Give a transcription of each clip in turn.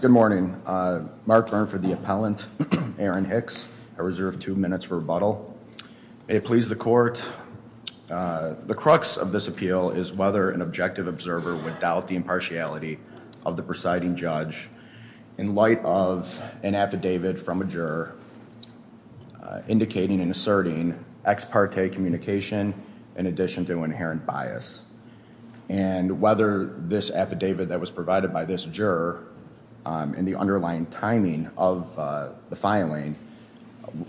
Good morning. Mark Burnford, the appellant, Aaron Hicks. I reserve two minutes for rebuttal. May it please the court, the crux of this appeal is whether an objective observer would doubt the impartiality of the presiding judge in light of an affidavit from a juror indicating and asserting ex parte communication in addition to inherent bias. And whether this affidavit that was provided by this juror in the underlying timing of the filing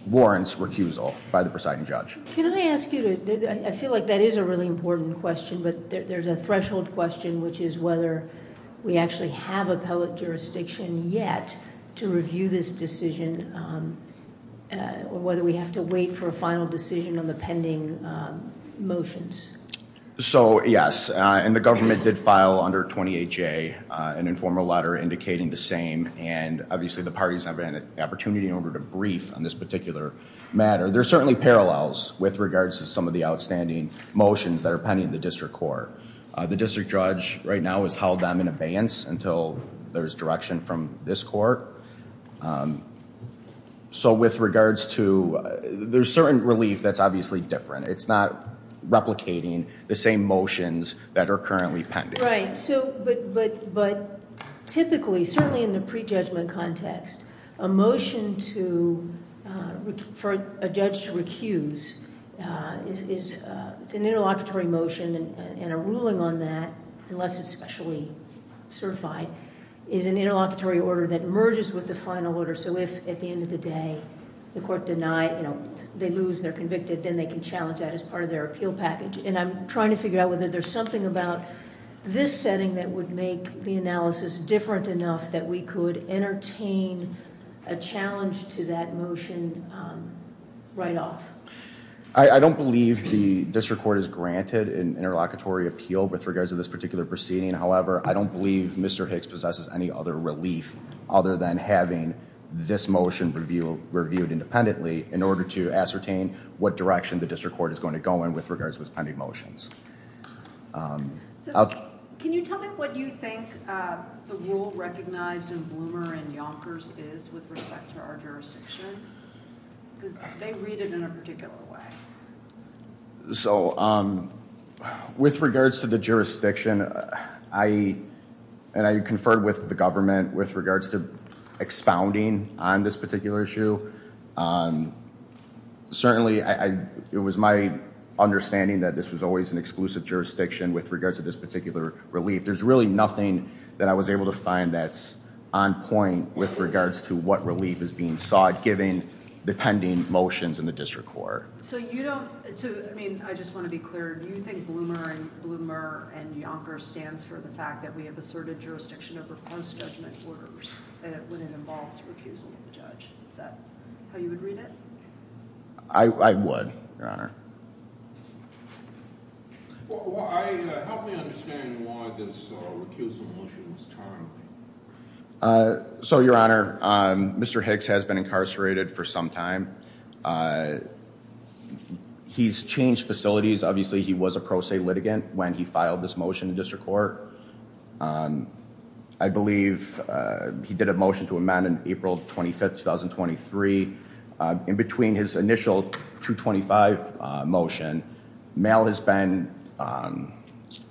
warrants recusal by the presiding judge. Can I ask you, I feel like that is a really important question, but there's a threshold question which is whether we actually have appellate jurisdiction yet to review this decision or whether we have to wait for a final decision on the pending motions. So yes, and the government did file under 28 J an informal letter indicating the same and obviously the parties have an opportunity in order to brief on this particular matter. There's certainly parallels with regards to some of the outstanding motions that are pending in the district court. The district judge right now has held them in abeyance until there's direction from this court. So with regards to, there's certain relief that's obviously different. It's not replicating the same motions that are currently pending. Right, so but typically, certainly in the prejudgment context, a motion to, for a judge to recuse, it's an interlocutory motion and a ruling on that, unless it's specially certified, is an interlocutory order that merges with the final order. So if at the end of the day the court denied, they lose, they're convicted, then they can challenge that as part of their appeal package. And I'm trying to figure out whether there's something about this setting that would make the analysis different enough that we could entertain a challenge to that motion right off. I don't believe the district court is granted an interlocutory appeal with regards to this particular proceeding. However, I don't believe Mr. Hicks possesses any other relief other than having this motion reviewed independently in order to ascertain what direction the district court is going to go in with regards to his pending motions. So can you tell me what you think the rule recognized in Bloomer and Yonkers is with respect to our jurisdiction? Because they read it in a particular way. So with regards to the jurisdiction, I conferred with the government with regards to expounding on this particular issue. Certainly, it was my understanding that this was always an exclusive jurisdiction with regards to this particular relief. There's really nothing that I was able to find that's on point with regards to what relief is being sought given the pending motions in the district court. So you don't, I mean, I just want to be clear, do you think Bloomer and Yonkers stands for the fact that we have asserted jurisdiction over post-judgment orders when it involves recusal of the judge? Is that how you would read it? I would, Your Honor. Help me understand why this recusal motion was timed. So, Your Honor, Mr. Hicks has been incarcerated for some time. He's changed facilities. Obviously, he was a pro se litigant when he filed this motion in the district court. I believe he did a motion to amend on April 25th, 2023. In between his initial 225 motion, mail has been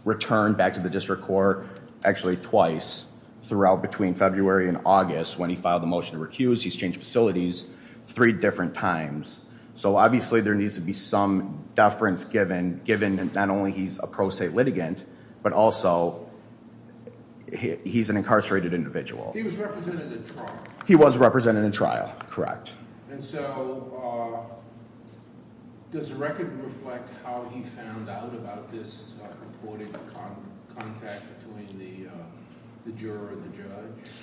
returned back to the district court actually twice throughout between February and August when he filed the motion to recuse. He's changed facilities three different times. So obviously, there needs to be some deference given not only he's a pro se litigant, but also he's an incarcerated individual. He was represented in trial. Correct. And so, does the record reflect how he found out about this reporting contact between the juror and the judge?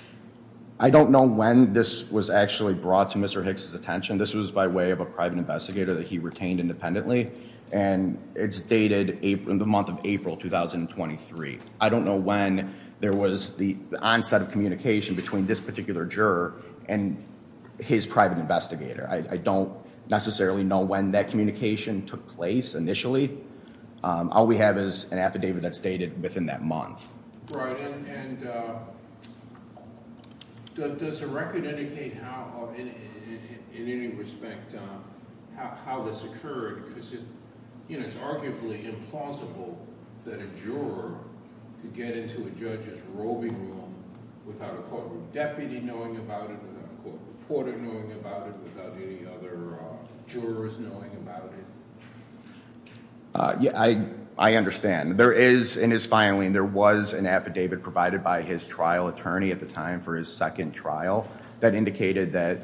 I don't know when this was actually brought to Mr. Hicks' attention. This was by way of a private investigator that he retained independently and it's dated in the month of April, 2023. I don't know when there was the onset of communication between this particular juror and his private investigator. I don't necessarily know when that communication took place initially. All we have is an affidavit that's dated within that month. Right. And does the record indicate how, in any respect, how this occurred? It's arguably implausible that a juror could get into a judge's robing room without a court deputy knowing about it, without a court reporter knowing about it, without any other jurors knowing about it. I understand. There is, in his filing, there was an affidavit provided by his trial attorney at the time for his second trial that indicated that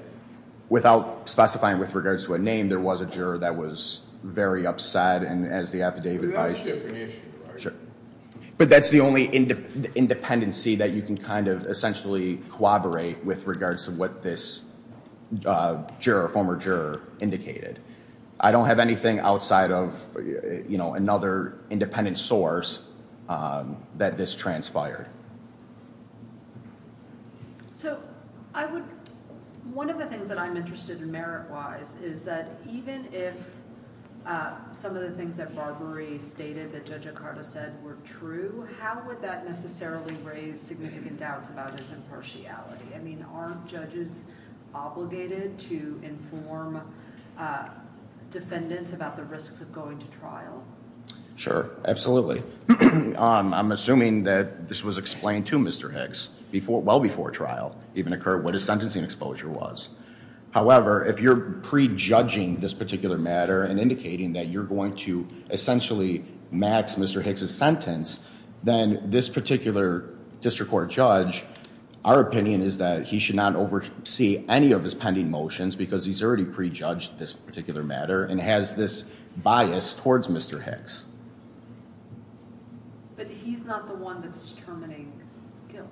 without specifying with regards to a name, there was a juror that was very upset and as the affidavit by... That's a different issue, right? Sure. But that's the only independency that you can kind of essentially corroborate with regards to what this former juror indicated. I don't have anything outside of another independent source that this transpired. One of the things that I'm interested in merit-wise is that even if some of the things that Barbarie stated that Judge O'Connor said were true, how would that necessarily raise significant doubts about his impartiality? I mean, aren't judges obligated to inform defendants about the risks of going to trial? Sure, absolutely. I'm assuming that this was explained to Mr. Hicks before, well before trial even occurred, what his sentencing exposure was. However, if you're prejudging this matter and indicating that you're going to essentially max Mr. Hicks' sentence, then this particular district court judge, our opinion is that he should not oversee any of his pending motions because he's already prejudged this particular matter and has this bias towards Mr. Hicks. But he's not the one that's determining guilt.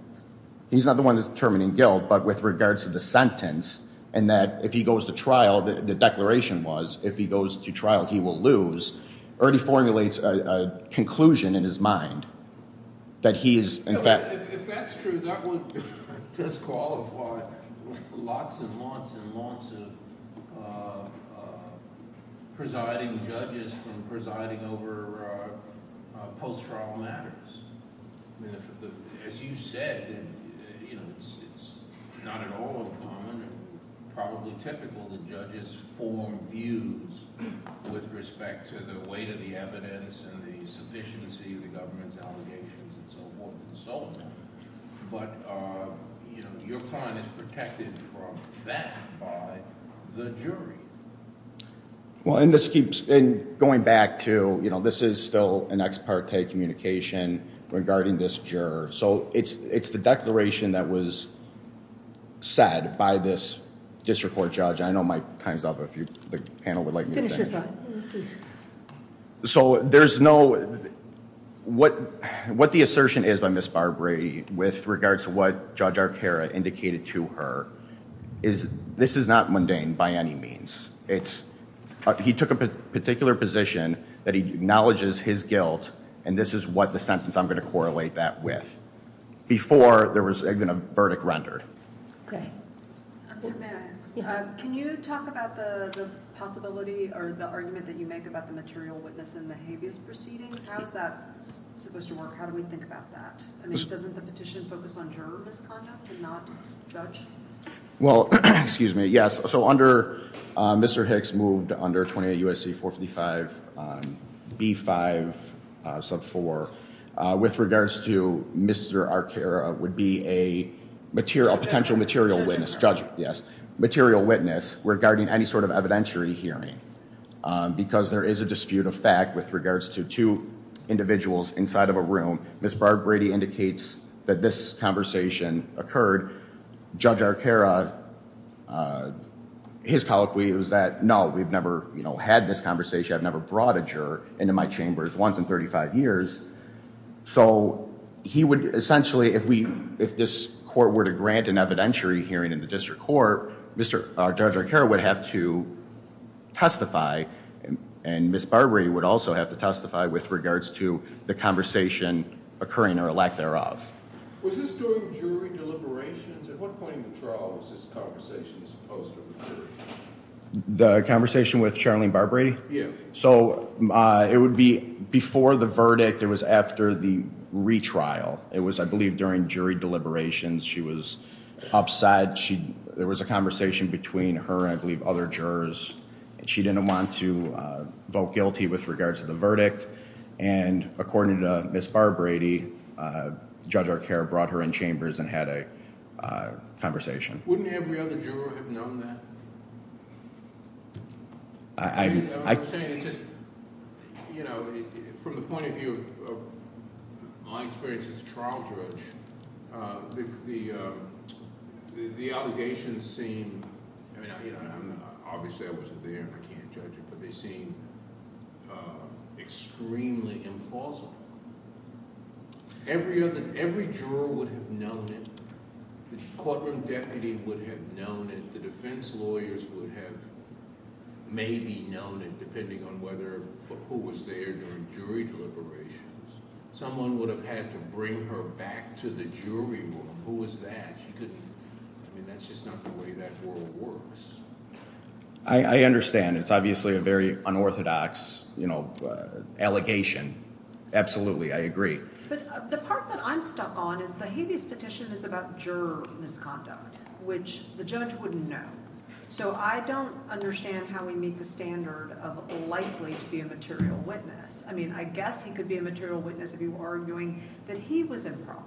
He's not the one that's determining guilt, but with regards to the sentence and that if he goes to trial, the declaration was, if he goes to trial he will lose, already formulates a conclusion in his mind that he is in fact... If that's true, that would disqualify lots and lots and lots of presiding judges from presiding over post-trial matters. As you said, it's not at all uncommon, probably typical that judges form views with respect to the weight of the evidence and the sufficiency of the government's allegations and so forth and so on, but your client is protected from that by the jury. Well, and this keeps, and going back to, this is still an ex parte communication regarding this juror, so it's the declaration that was said by this district court judge. I know my time's up, if the panel would like me to finish. So there's no... What the assertion is by Ms. Barbrey with regards to what Judge Arcara indicated to her is this is not mundane by any means. He took a particular position that he acknowledges his guilt and this is what the sentence I'm going to correlate that with, before there was even a verdict rendered. Okay. Can you talk about the possibility or the argument that you make about the material witness in the habeas proceedings? How is that supposed to work? How do we think about that? I mean, doesn't the petition focus on juror misconduct and not judge? Well, excuse me, yes. So under, Mr. Hicks moved under 28 U.S.C. 455 B5 sub 4 with regards to Mr. Arcara would be a potential material witness, judge, yes, material witness regarding any sort of evidentiary hearing because there is a dispute of fact with regards to two individuals inside of a room. Ms. Barbrey indicates that this conversation occurred Judge Arcara, his colloquy was that, no, we've never had this conversation. I've never brought a juror into my chambers once in 35 years. So he would essentially, if this court were to grant an evidentiary hearing in the district court, Judge Arcara would have to testify and Ms. Barbrey would also have to testify with regards to the conversation occurring or lack thereof. Was this during jury deliberations? At what point in the trial was this conversation supposed to occur? The conversation with Charlene Barbrey? Yeah. So it would be before the verdict. It was after the retrial. It was, I believe, during jury deliberations. She was upset. There was a conversation between her and, I believe, other jurors. She didn't want to vote guilty with regards to the verdict. And according to Ms. Barbrey, Judge Arcara brought her in chambers and had a conversation. Wouldn't every other juror have known that? I'm saying it's just, you know, from the point of view of my experience as a trial judge, the allegations seem, I mean, obviously I wasn't there and I can't judge it, but they seem extremely implausible. Every other, every juror would have known it. The courtroom deputy would have known it. The defense lawyers would have maybe known it, depending on whether, who was there during jury deliberations. Someone would have had to bring her back to the jury room. Who was that? She couldn't. I mean, that's just not the way that world works. I understand. It's obviously a very unorthodox, you know, allegation. Absolutely. I agree. But the part that I'm stuck on is the habeas petition is about juror misconduct, which the judge wouldn't know. So I don't understand how we meet the standard of likely to be a material witness. I mean, I guess he could be a material witness if you were arguing that he was improper.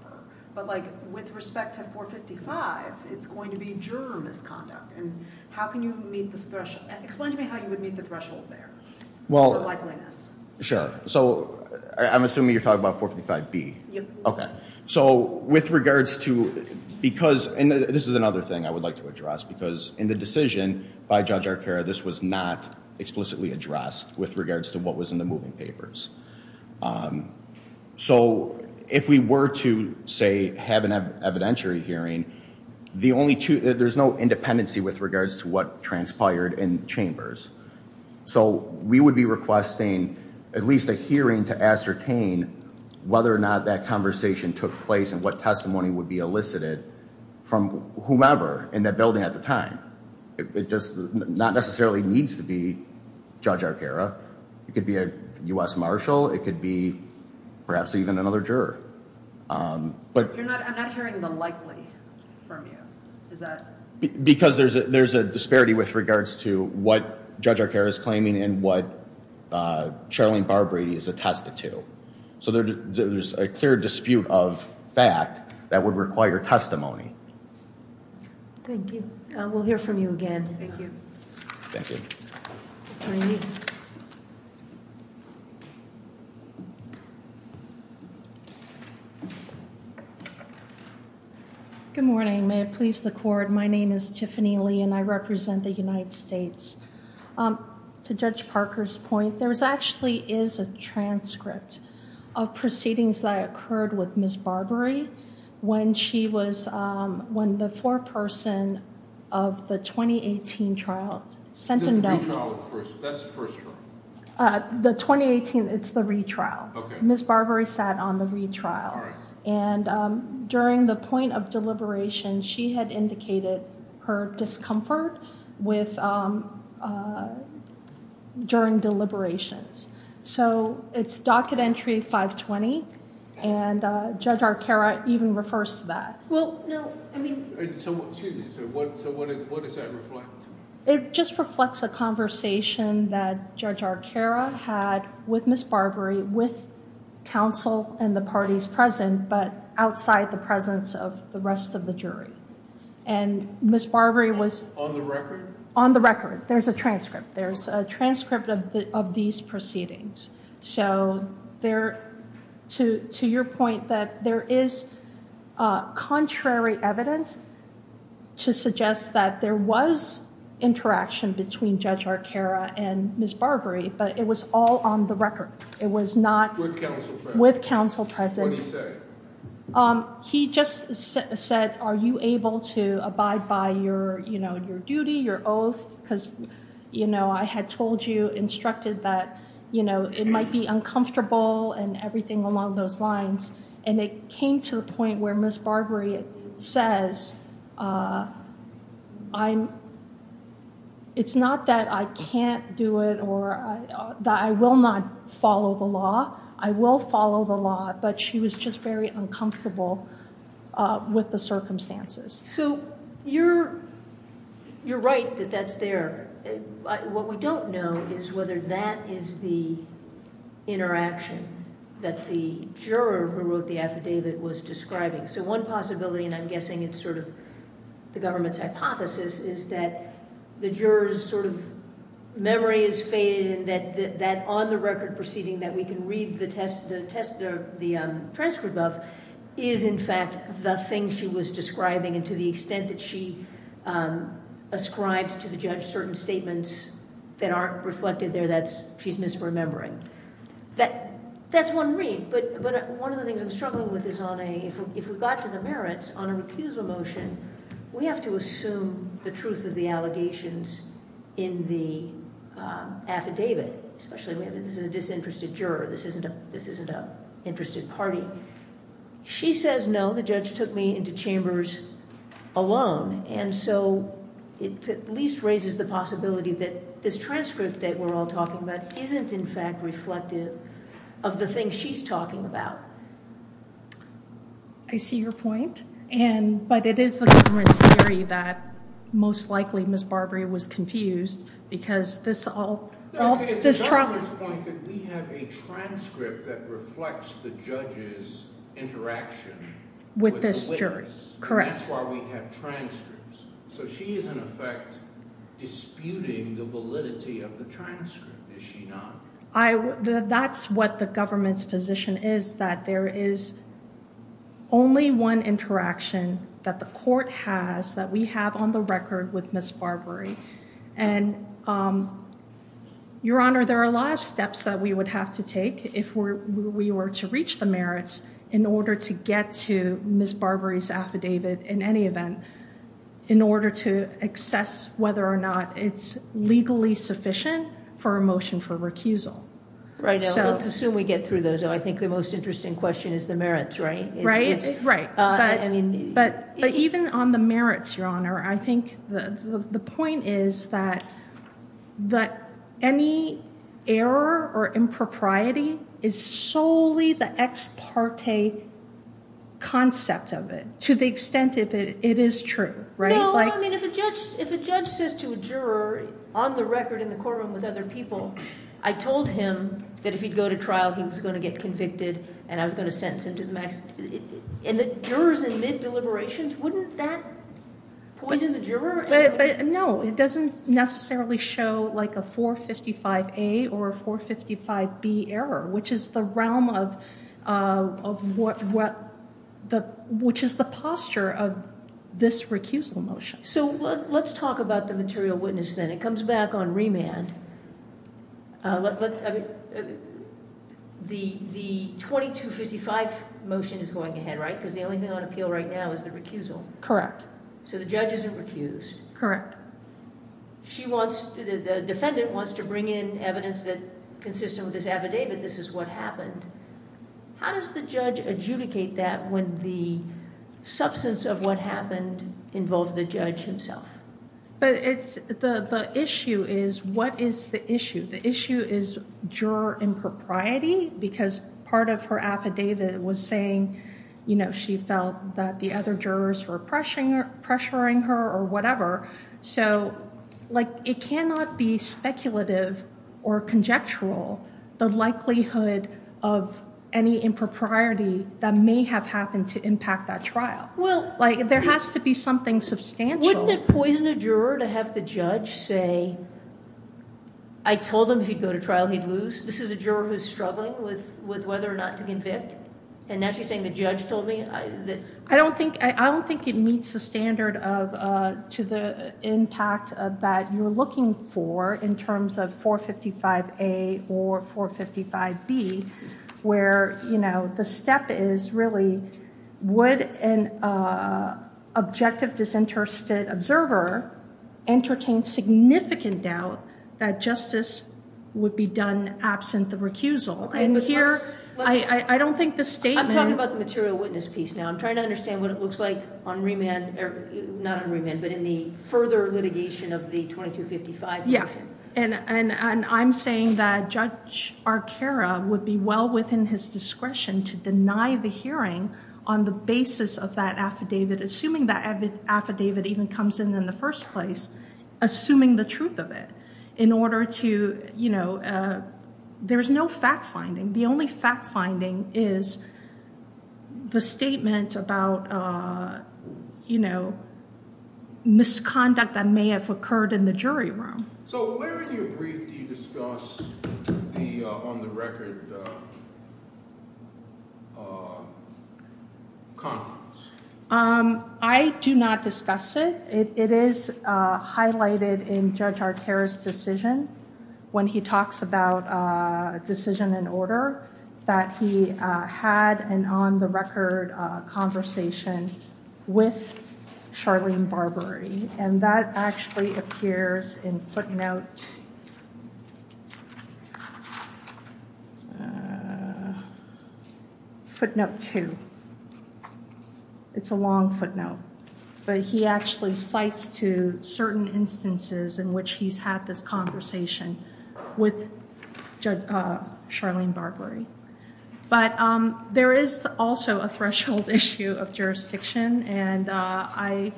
But like with respect to 455, it's going to be juror misconduct. And how can you meet this threshold? Explain to me how you would meet the threshold there. Well, sure. So I'm assuming you're talking about 455B. Okay. So with regards to, because, and this is another thing I would like to address because in the decision by Judge Arcaro, this was not explicitly addressed with regards to what was in the moving papers. So if we were to say, have an evidentiary hearing, the only two, there's no independency with regards to what transpired in chambers. So we would be requesting at least a hearing to ascertain whether or not that conversation took place and what testimony would be elicited from whomever in that building at the time. It just not necessarily needs to be Judge Arcaro. It could be a U.S. Marshal. It could be perhaps even another juror. I'm not hearing the likely from you. Is that? Because there's a disparity with regards to what Judge Arcaro is claiming and what Charlene Barbrady is attested to. So there's a clear dispute of fact that would require testimony. Thank you. We'll hear from you again. Thank you. Good morning. May it please the court. My name is Tiffany Lee and I represent the United States. To Judge Parker's point, there actually is a transcript of proceedings that occurred with when the foreperson of the 2018 trial sent him down. The 2018, it's the retrial. Ms. Barbrady sat on the retrial and during the point of deliberation, she had indicated her discomfort during deliberations. So it's docket entry 520 and Judge Arcaro even refers to that. What does that reflect? It just reflects a conversation that Judge Arcaro had with Ms. Barbrady with counsel and the parties present, but outside the presence of the rest of the jury. And Ms. Barbrady was on the record. There's a transcript. There's a transcript of these proceedings. So to your point that there is contrary evidence to suggest that there was interaction between Judge Arcaro and Ms. Barbrady, but it was all on the record. It was not with counsel present. He just said, are you able to abide by your duty, your oath? Because I had told you, instructed that it might be uncomfortable and everything along those lines. And it came to a point where Ms. Barbrady says, it's not that I can't do it or that I will not follow the law. I will follow the law, but she was just very uncomfortable with the circumstances. So you're right that that's there. What we don't know is whether that is the interaction that the juror who wrote the affidavit was describing. So one possibility, and I'm guessing it's sort of the government's hypothesis, is that the juror's sort of memory is faded and that on the record proceeding that we can read the transcript of is in fact the thing she was describing and to the extent that she ascribed to the judge certain statements that aren't reflected there that she's misremembering. That's one read, but one of the things I'm struggling with is if we got to the merits on an accusal motion, we have to assume the truth of the allegations in the affidavit, especially if this is a disinterested juror. This isn't a interested party. She says no, the judge took me into chambers alone, and so it at least raises the possibility that this transcript that we're all talking about isn't in fact reflective of the thing she's talking about. I see your point, but it is the government's theory that most likely Ms. Barbrady was confused because this all... It's the government's point that we have a transcript that reflects the judge's interaction with this jury. Correct. That's why we have transcripts. So she is in effect disputing the validity of the transcript, is she not? That's what the government's position is, that there is only one interaction that the court has that we have on the record with Ms. Barbrady, and Your Honor, there are a lot of steps that we would have to take if we were to reach the merits in order to get to Ms. Barbrady's affidavit in any event, in order to assess whether or not it's legally sufficient for a motion for recusal. Right, let's assume we get through those. I think the most interesting question is the merits, right? Right, but even on the merits, Your Honor, I think the point is that any error or impropriety is solely the ex parte concept of it, to the extent that it is true, right? No, I mean, if a judge says to a juror on the record in the courtroom with other people, I told him that if he'd go to trial, he was going to get convicted and I was going to sentence him to the maximum... And the jurors in deliberations, wouldn't that poison the juror? No, it doesn't necessarily show like a 455A or 455B error, which is the posture of this recusal motion. So let's talk about the material witness then. It comes back on remand. The 2255 motion is going ahead, right? Because the only thing on appeal right now is the recusal. Correct. So the judge isn't recused. Correct. The defendant wants to bring in evidence that consistent with this affidavit, this is what happened. How does the judge adjudicate that when the substance of what happened involved the judge himself? The issue is, what is the issue? The issue is juror impropriety because part of her affidavit was saying she felt that the other jurors were pressuring her or whatever. So it cannot be speculative or conjectural, the likelihood of any impropriety that may have happened to impact that trial. There has to be something substantial. Wouldn't it poison a juror to have the judge say, I told him if he'd go to trial, he'd lose. This is a juror who's struggling with whether or not to convict. And now she's saying the judge told me. I don't think it meets the standard to the impact that you're looking for in terms of 455A or 455B where the step is really would an objective disinterested observer entertain significant doubt that justice would be done absent the recusal. And here, I don't think the statement... I'm talking about the material witness piece now. I'm trying to understand what it looks like on remand, not on remand, but in the further litigation of the 2255 motion. Yeah. And I'm saying that Judge Arcara would be well within his discretion to deny the hearing on the basis of that affidavit, assuming that affidavit even comes in in the first place, assuming the truth of it in order to... There's no fact finding. The only fact finding is the statement about misconduct that may have occurred in the jury room. So where in your brief do you discuss the on the record conference? I do not discuss it. It is highlighted in Judge Arcara's decision when he talks about decision and order that he had an on the record conversation with Charlene Barbary. And that actually appears in footnote... Footnote two. It's a long footnote, but he actually cites to certain instances in which he's had this conversation with Charlene Barbary. But there is also a threshold issue of jurisdiction. And I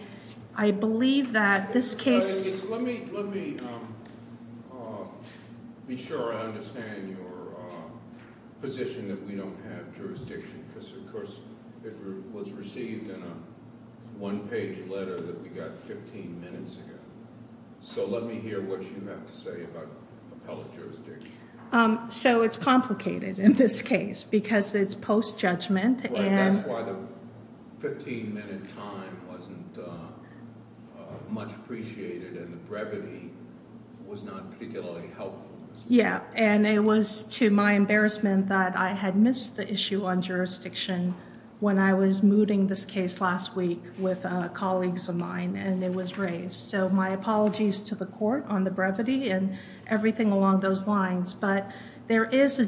believe that this case... Let me be sure I understand your position that we don't have jurisdiction because of course it was received in a one page letter that we got 15 minutes ago. So let me hear what you have to say about appellate jurisdiction. So it's complicated in this case because it's post-judgment and... That's why the 15 minute time wasn't much appreciated and the brevity was not particularly helpful. Yeah. And it was to my embarrassment that I had missed the issue on jurisdiction when I was mooting this case last week with colleagues of mine and it was raised. So my apologies to the court on the brevity and everything along those lines. But there is a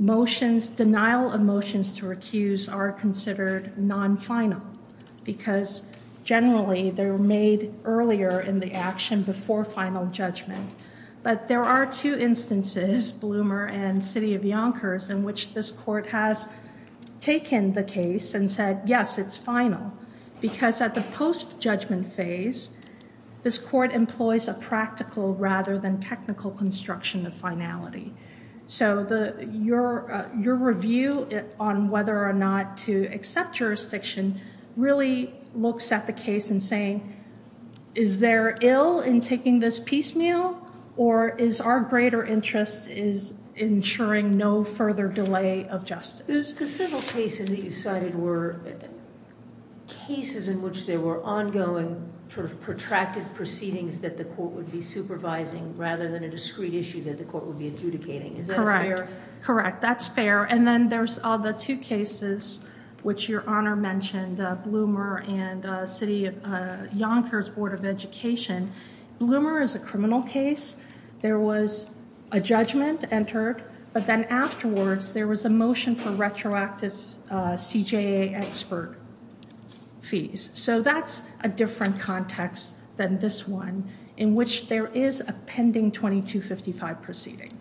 motion. Denial of motions to recuse are considered non-final because generally they're made earlier in the action before final judgment. But there are two instances, Bloomer and City of Yonkers, in which this court has taken the case and said, yes, it's final. Because at the post-judgment phase, this court employs a practical rather than technical construction of finality. So your review on whether or not to accept jurisdiction really looks at the case and saying, is there ill in taking this piecemeal or is our greater interest is ensuring no further delay of justice. The civil cases that you cited were cases in which there were ongoing sort of protracted proceedings that the court would be supervising rather than a discrete issue that the court would be adjudicating. Is that fair? Correct. That's fair. And then there's all the two cases which your honor mentioned, Bloomer and City of Yonkers Board of Education. Bloomer is a criminal case. There was a judgment entered. But then afterwards, there was a motion for retroactive CJA expert fees. So that's a different context than this one in which there is a pending 2255 proceeding.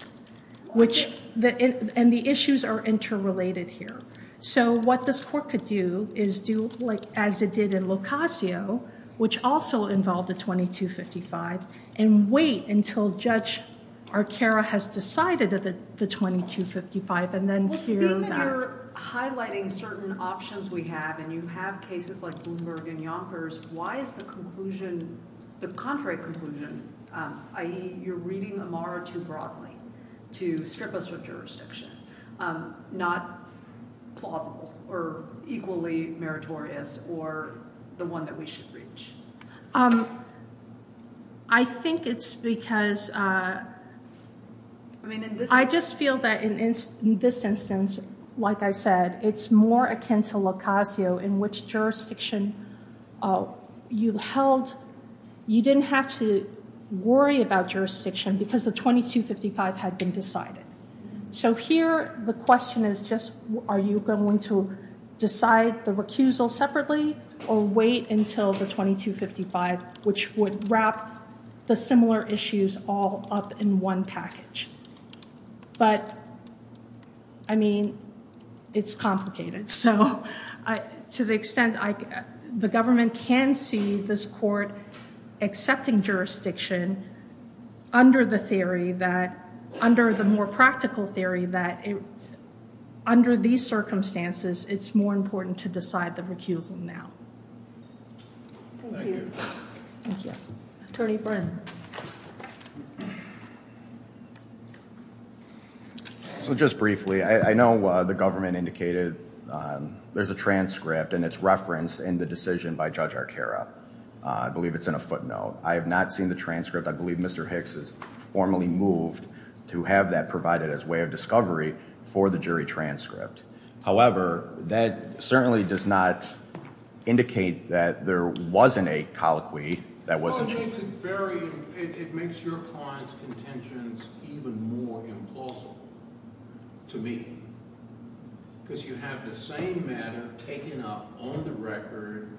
And the issues are interrelated here. So what this court could do is do as it in Locasio, which also involved a 2255, and wait until Judge Arcaro has decided that the 2255 and then hear that. Well, being that you're highlighting certain options we have and you have cases like Bloomberg and Yonkers, why is the conclusion, the contrary conclusion, i.e. you're reading Amara too broadly to strip us of jurisdiction, not plausible or equally meritorious or the one that we should reach? I think it's because I just feel that in this instance, like I said, it's more akin to Locasio in which jurisdiction you held, you didn't have to worry about jurisdiction because the 2255 had been decided. So here, the question is just are you going to decide the recusal separately or wait until the 2255, which would wrap the similar issues all up in one package? But I mean, it's complicated. So to the extent the government can see this court accepting jurisdiction under the theory that, under the more practical theory that under these circumstances, it's more important to decide the recusal now. Thank you. Thank you. Attorney Brennan. So just briefly, I know the government indicated there's a transcript and it's referenced in the by Judge Arcaro. I believe it's in a footnote. I have not seen the transcript. I believe Mr. Hicks is formally moved to have that provided as way of discovery for the jury transcript. However, that certainly does not indicate that there wasn't a colloquy that was achieved. It makes your client's contentions even more implausible to me because you have the same matter taken up on the record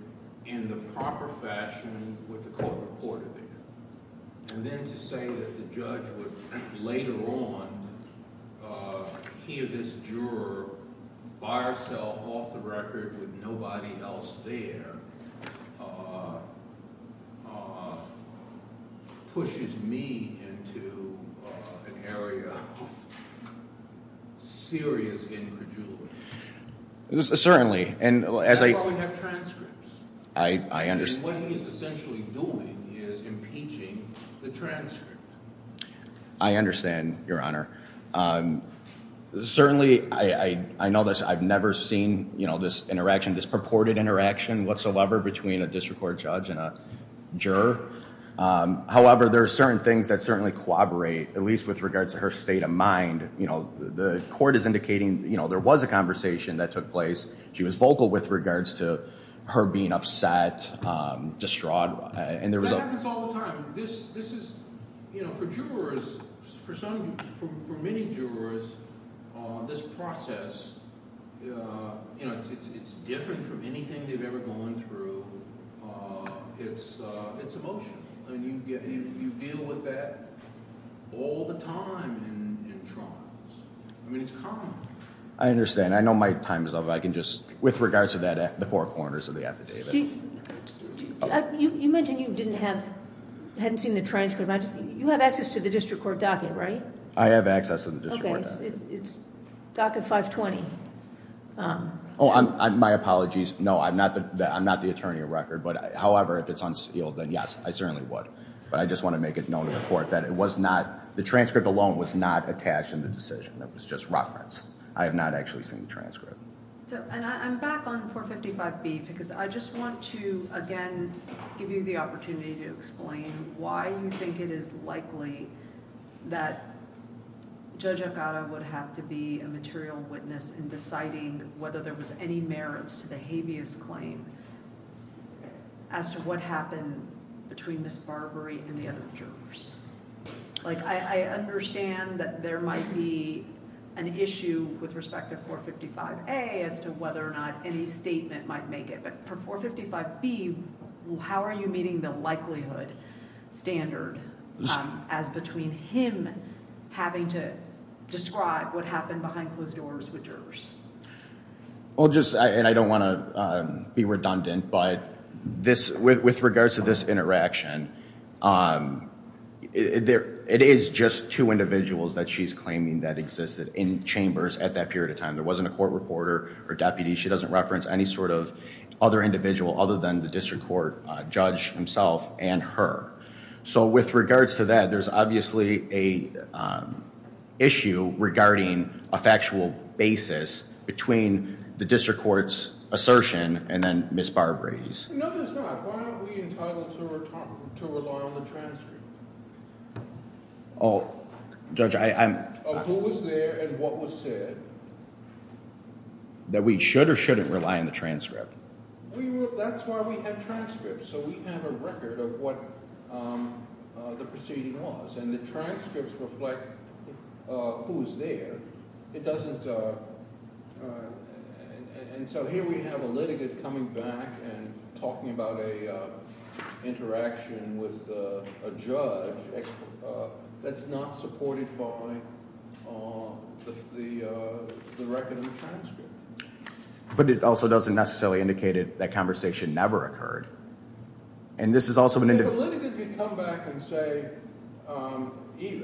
in the proper fashion with the court reporter there. And then to say that the judge would later on hear this juror by herself off the record with nobody else there pushes me into an area of serious anger, Julie. Certainly, and as I have transcripts, I understand what he is essentially doing is impeaching the transcript. I understand, Your Honor. Certainly, I know this. I've never seen, you know, this interaction, this purported interaction whatsoever between a district court judge and a juror. However, there are certain things that certainly corroborate, at least with regards to her state of mind. You know, the court is indicating, you know, there was a conversation that took place. She was vocal with regards to her being upset, distraught. That happens all the time. This is, you know, for jurors, for some, for many jurors, this process, you know, it's different from anything they've ever gone through. It's emotional. I mean, you deal with that all the time in trials. I mean, it's common. I understand. I know my time is up. I can just, with regards to that, the four corners of the affidavit. You mentioned you didn't have, hadn't seen the transcript. You have access to the district court docket, right? I have access to the district court docket. Okay, it's docket 520. Oh, my apologies. No, I'm not the attorney of record, but however, if it's unsealed, then yes, I certainly would, but I just want to make it not attached in the decision that was just referenced. I have not actually seen the transcript. So, and I'm back on 455B because I just want to, again, give you the opportunity to explain why you think it is likely that Judge Elgato would have to be a material witness in deciding whether there was any merits to the habeas claim as to what happened between Ms. Barbary and the jurors. Like, I understand that there might be an issue with respect to 455A as to whether or not any statement might make it, but for 455B, how are you meeting the likelihood standard as between him having to describe what happened behind closed doors with jurors? Well, just, and I don't want to be redundant, but with regards to this interaction, it is just two individuals that she's claiming that existed in chambers at that period of time. There wasn't a court reporter or deputy. She doesn't reference any sort of other individual other than the district court judge himself and her. So, with regards to that, there's obviously a issue regarding a factual basis between the district court's assertion and then Ms. Barbary's. No, there's not. Why aren't we entitled to rely on the transcript? Oh, Judge, I'm... Of who was there and what was said. That we should or shouldn't rely on the transcript. That's why we have transcripts. So, we have a record of what the proceeding was, and the transcripts reflect who's there. It doesn't... And so, here we have a litigant coming back and talking about an interaction with a judge that's not supported by the record of the transcript. But it also doesn't necessarily indicate that that conversation never occurred. And this is also an individual... If a litigant could come back and say, even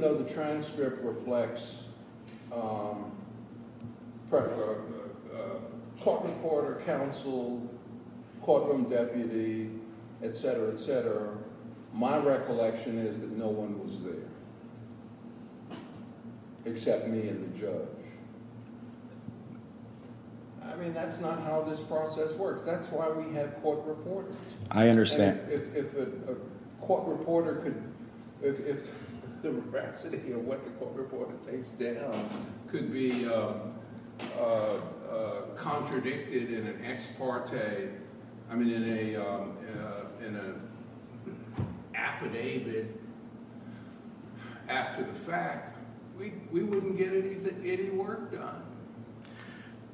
though the transcript reflects court reporter, counsel, courtroom deputy, etc., etc., my recollection is that no one was there except me and the judge. I mean, that's not how this process works. That's why we have court reporters. I understand. And if a court reporter could... If the veracity of what the court reporter takes down could be contradicted in an ex parte, I mean, in an affidavit after the fact, we wouldn't get any work done.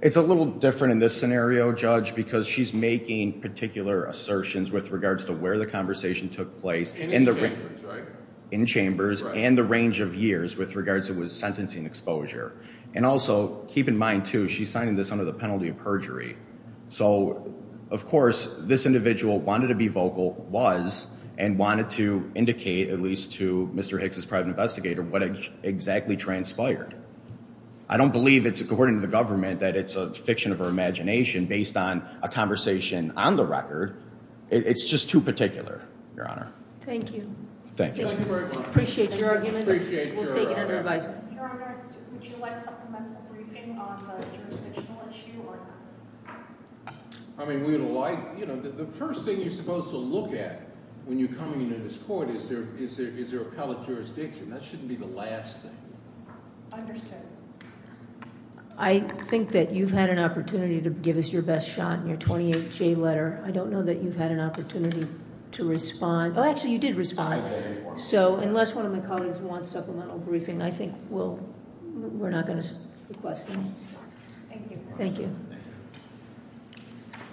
It's a little different in this scenario, Judge, because she's making particular assertions with regards to where the conversation took place... In the chambers, right? In chambers and the range of years with regards to what was sentencing exposure. And also, keep in mind too, she's signing this under the penalty of perjury. So, of course, this individual wanted to be vocal, was, and wanted to indicate, at least to Mr. Hicks' private investigator, what exactly transpired. I don't believe it's according to the government that it's a fiction of her imagination based on a conversation on the record. It's just too particular, Your Honor. Thank you. Thank you very much. Appreciate your argument. Appreciate your argument. We'll take it under advisement. Your Honor, would you like supplemental briefing on the jurisdictional issue or not? I mean, the first thing you're supposed to look at when you're coming into this court is there appellate jurisdiction. That shouldn't be the last thing. Understood. I think that you've had an opportunity to give us your best shot in your 28-J letter. I don't know that you've had an opportunity to respond. Oh, actually, you did respond. So, unless one of my colleagues wants supplemental briefing, I think we're not going to request any. Thank you. Thank you. Thank you.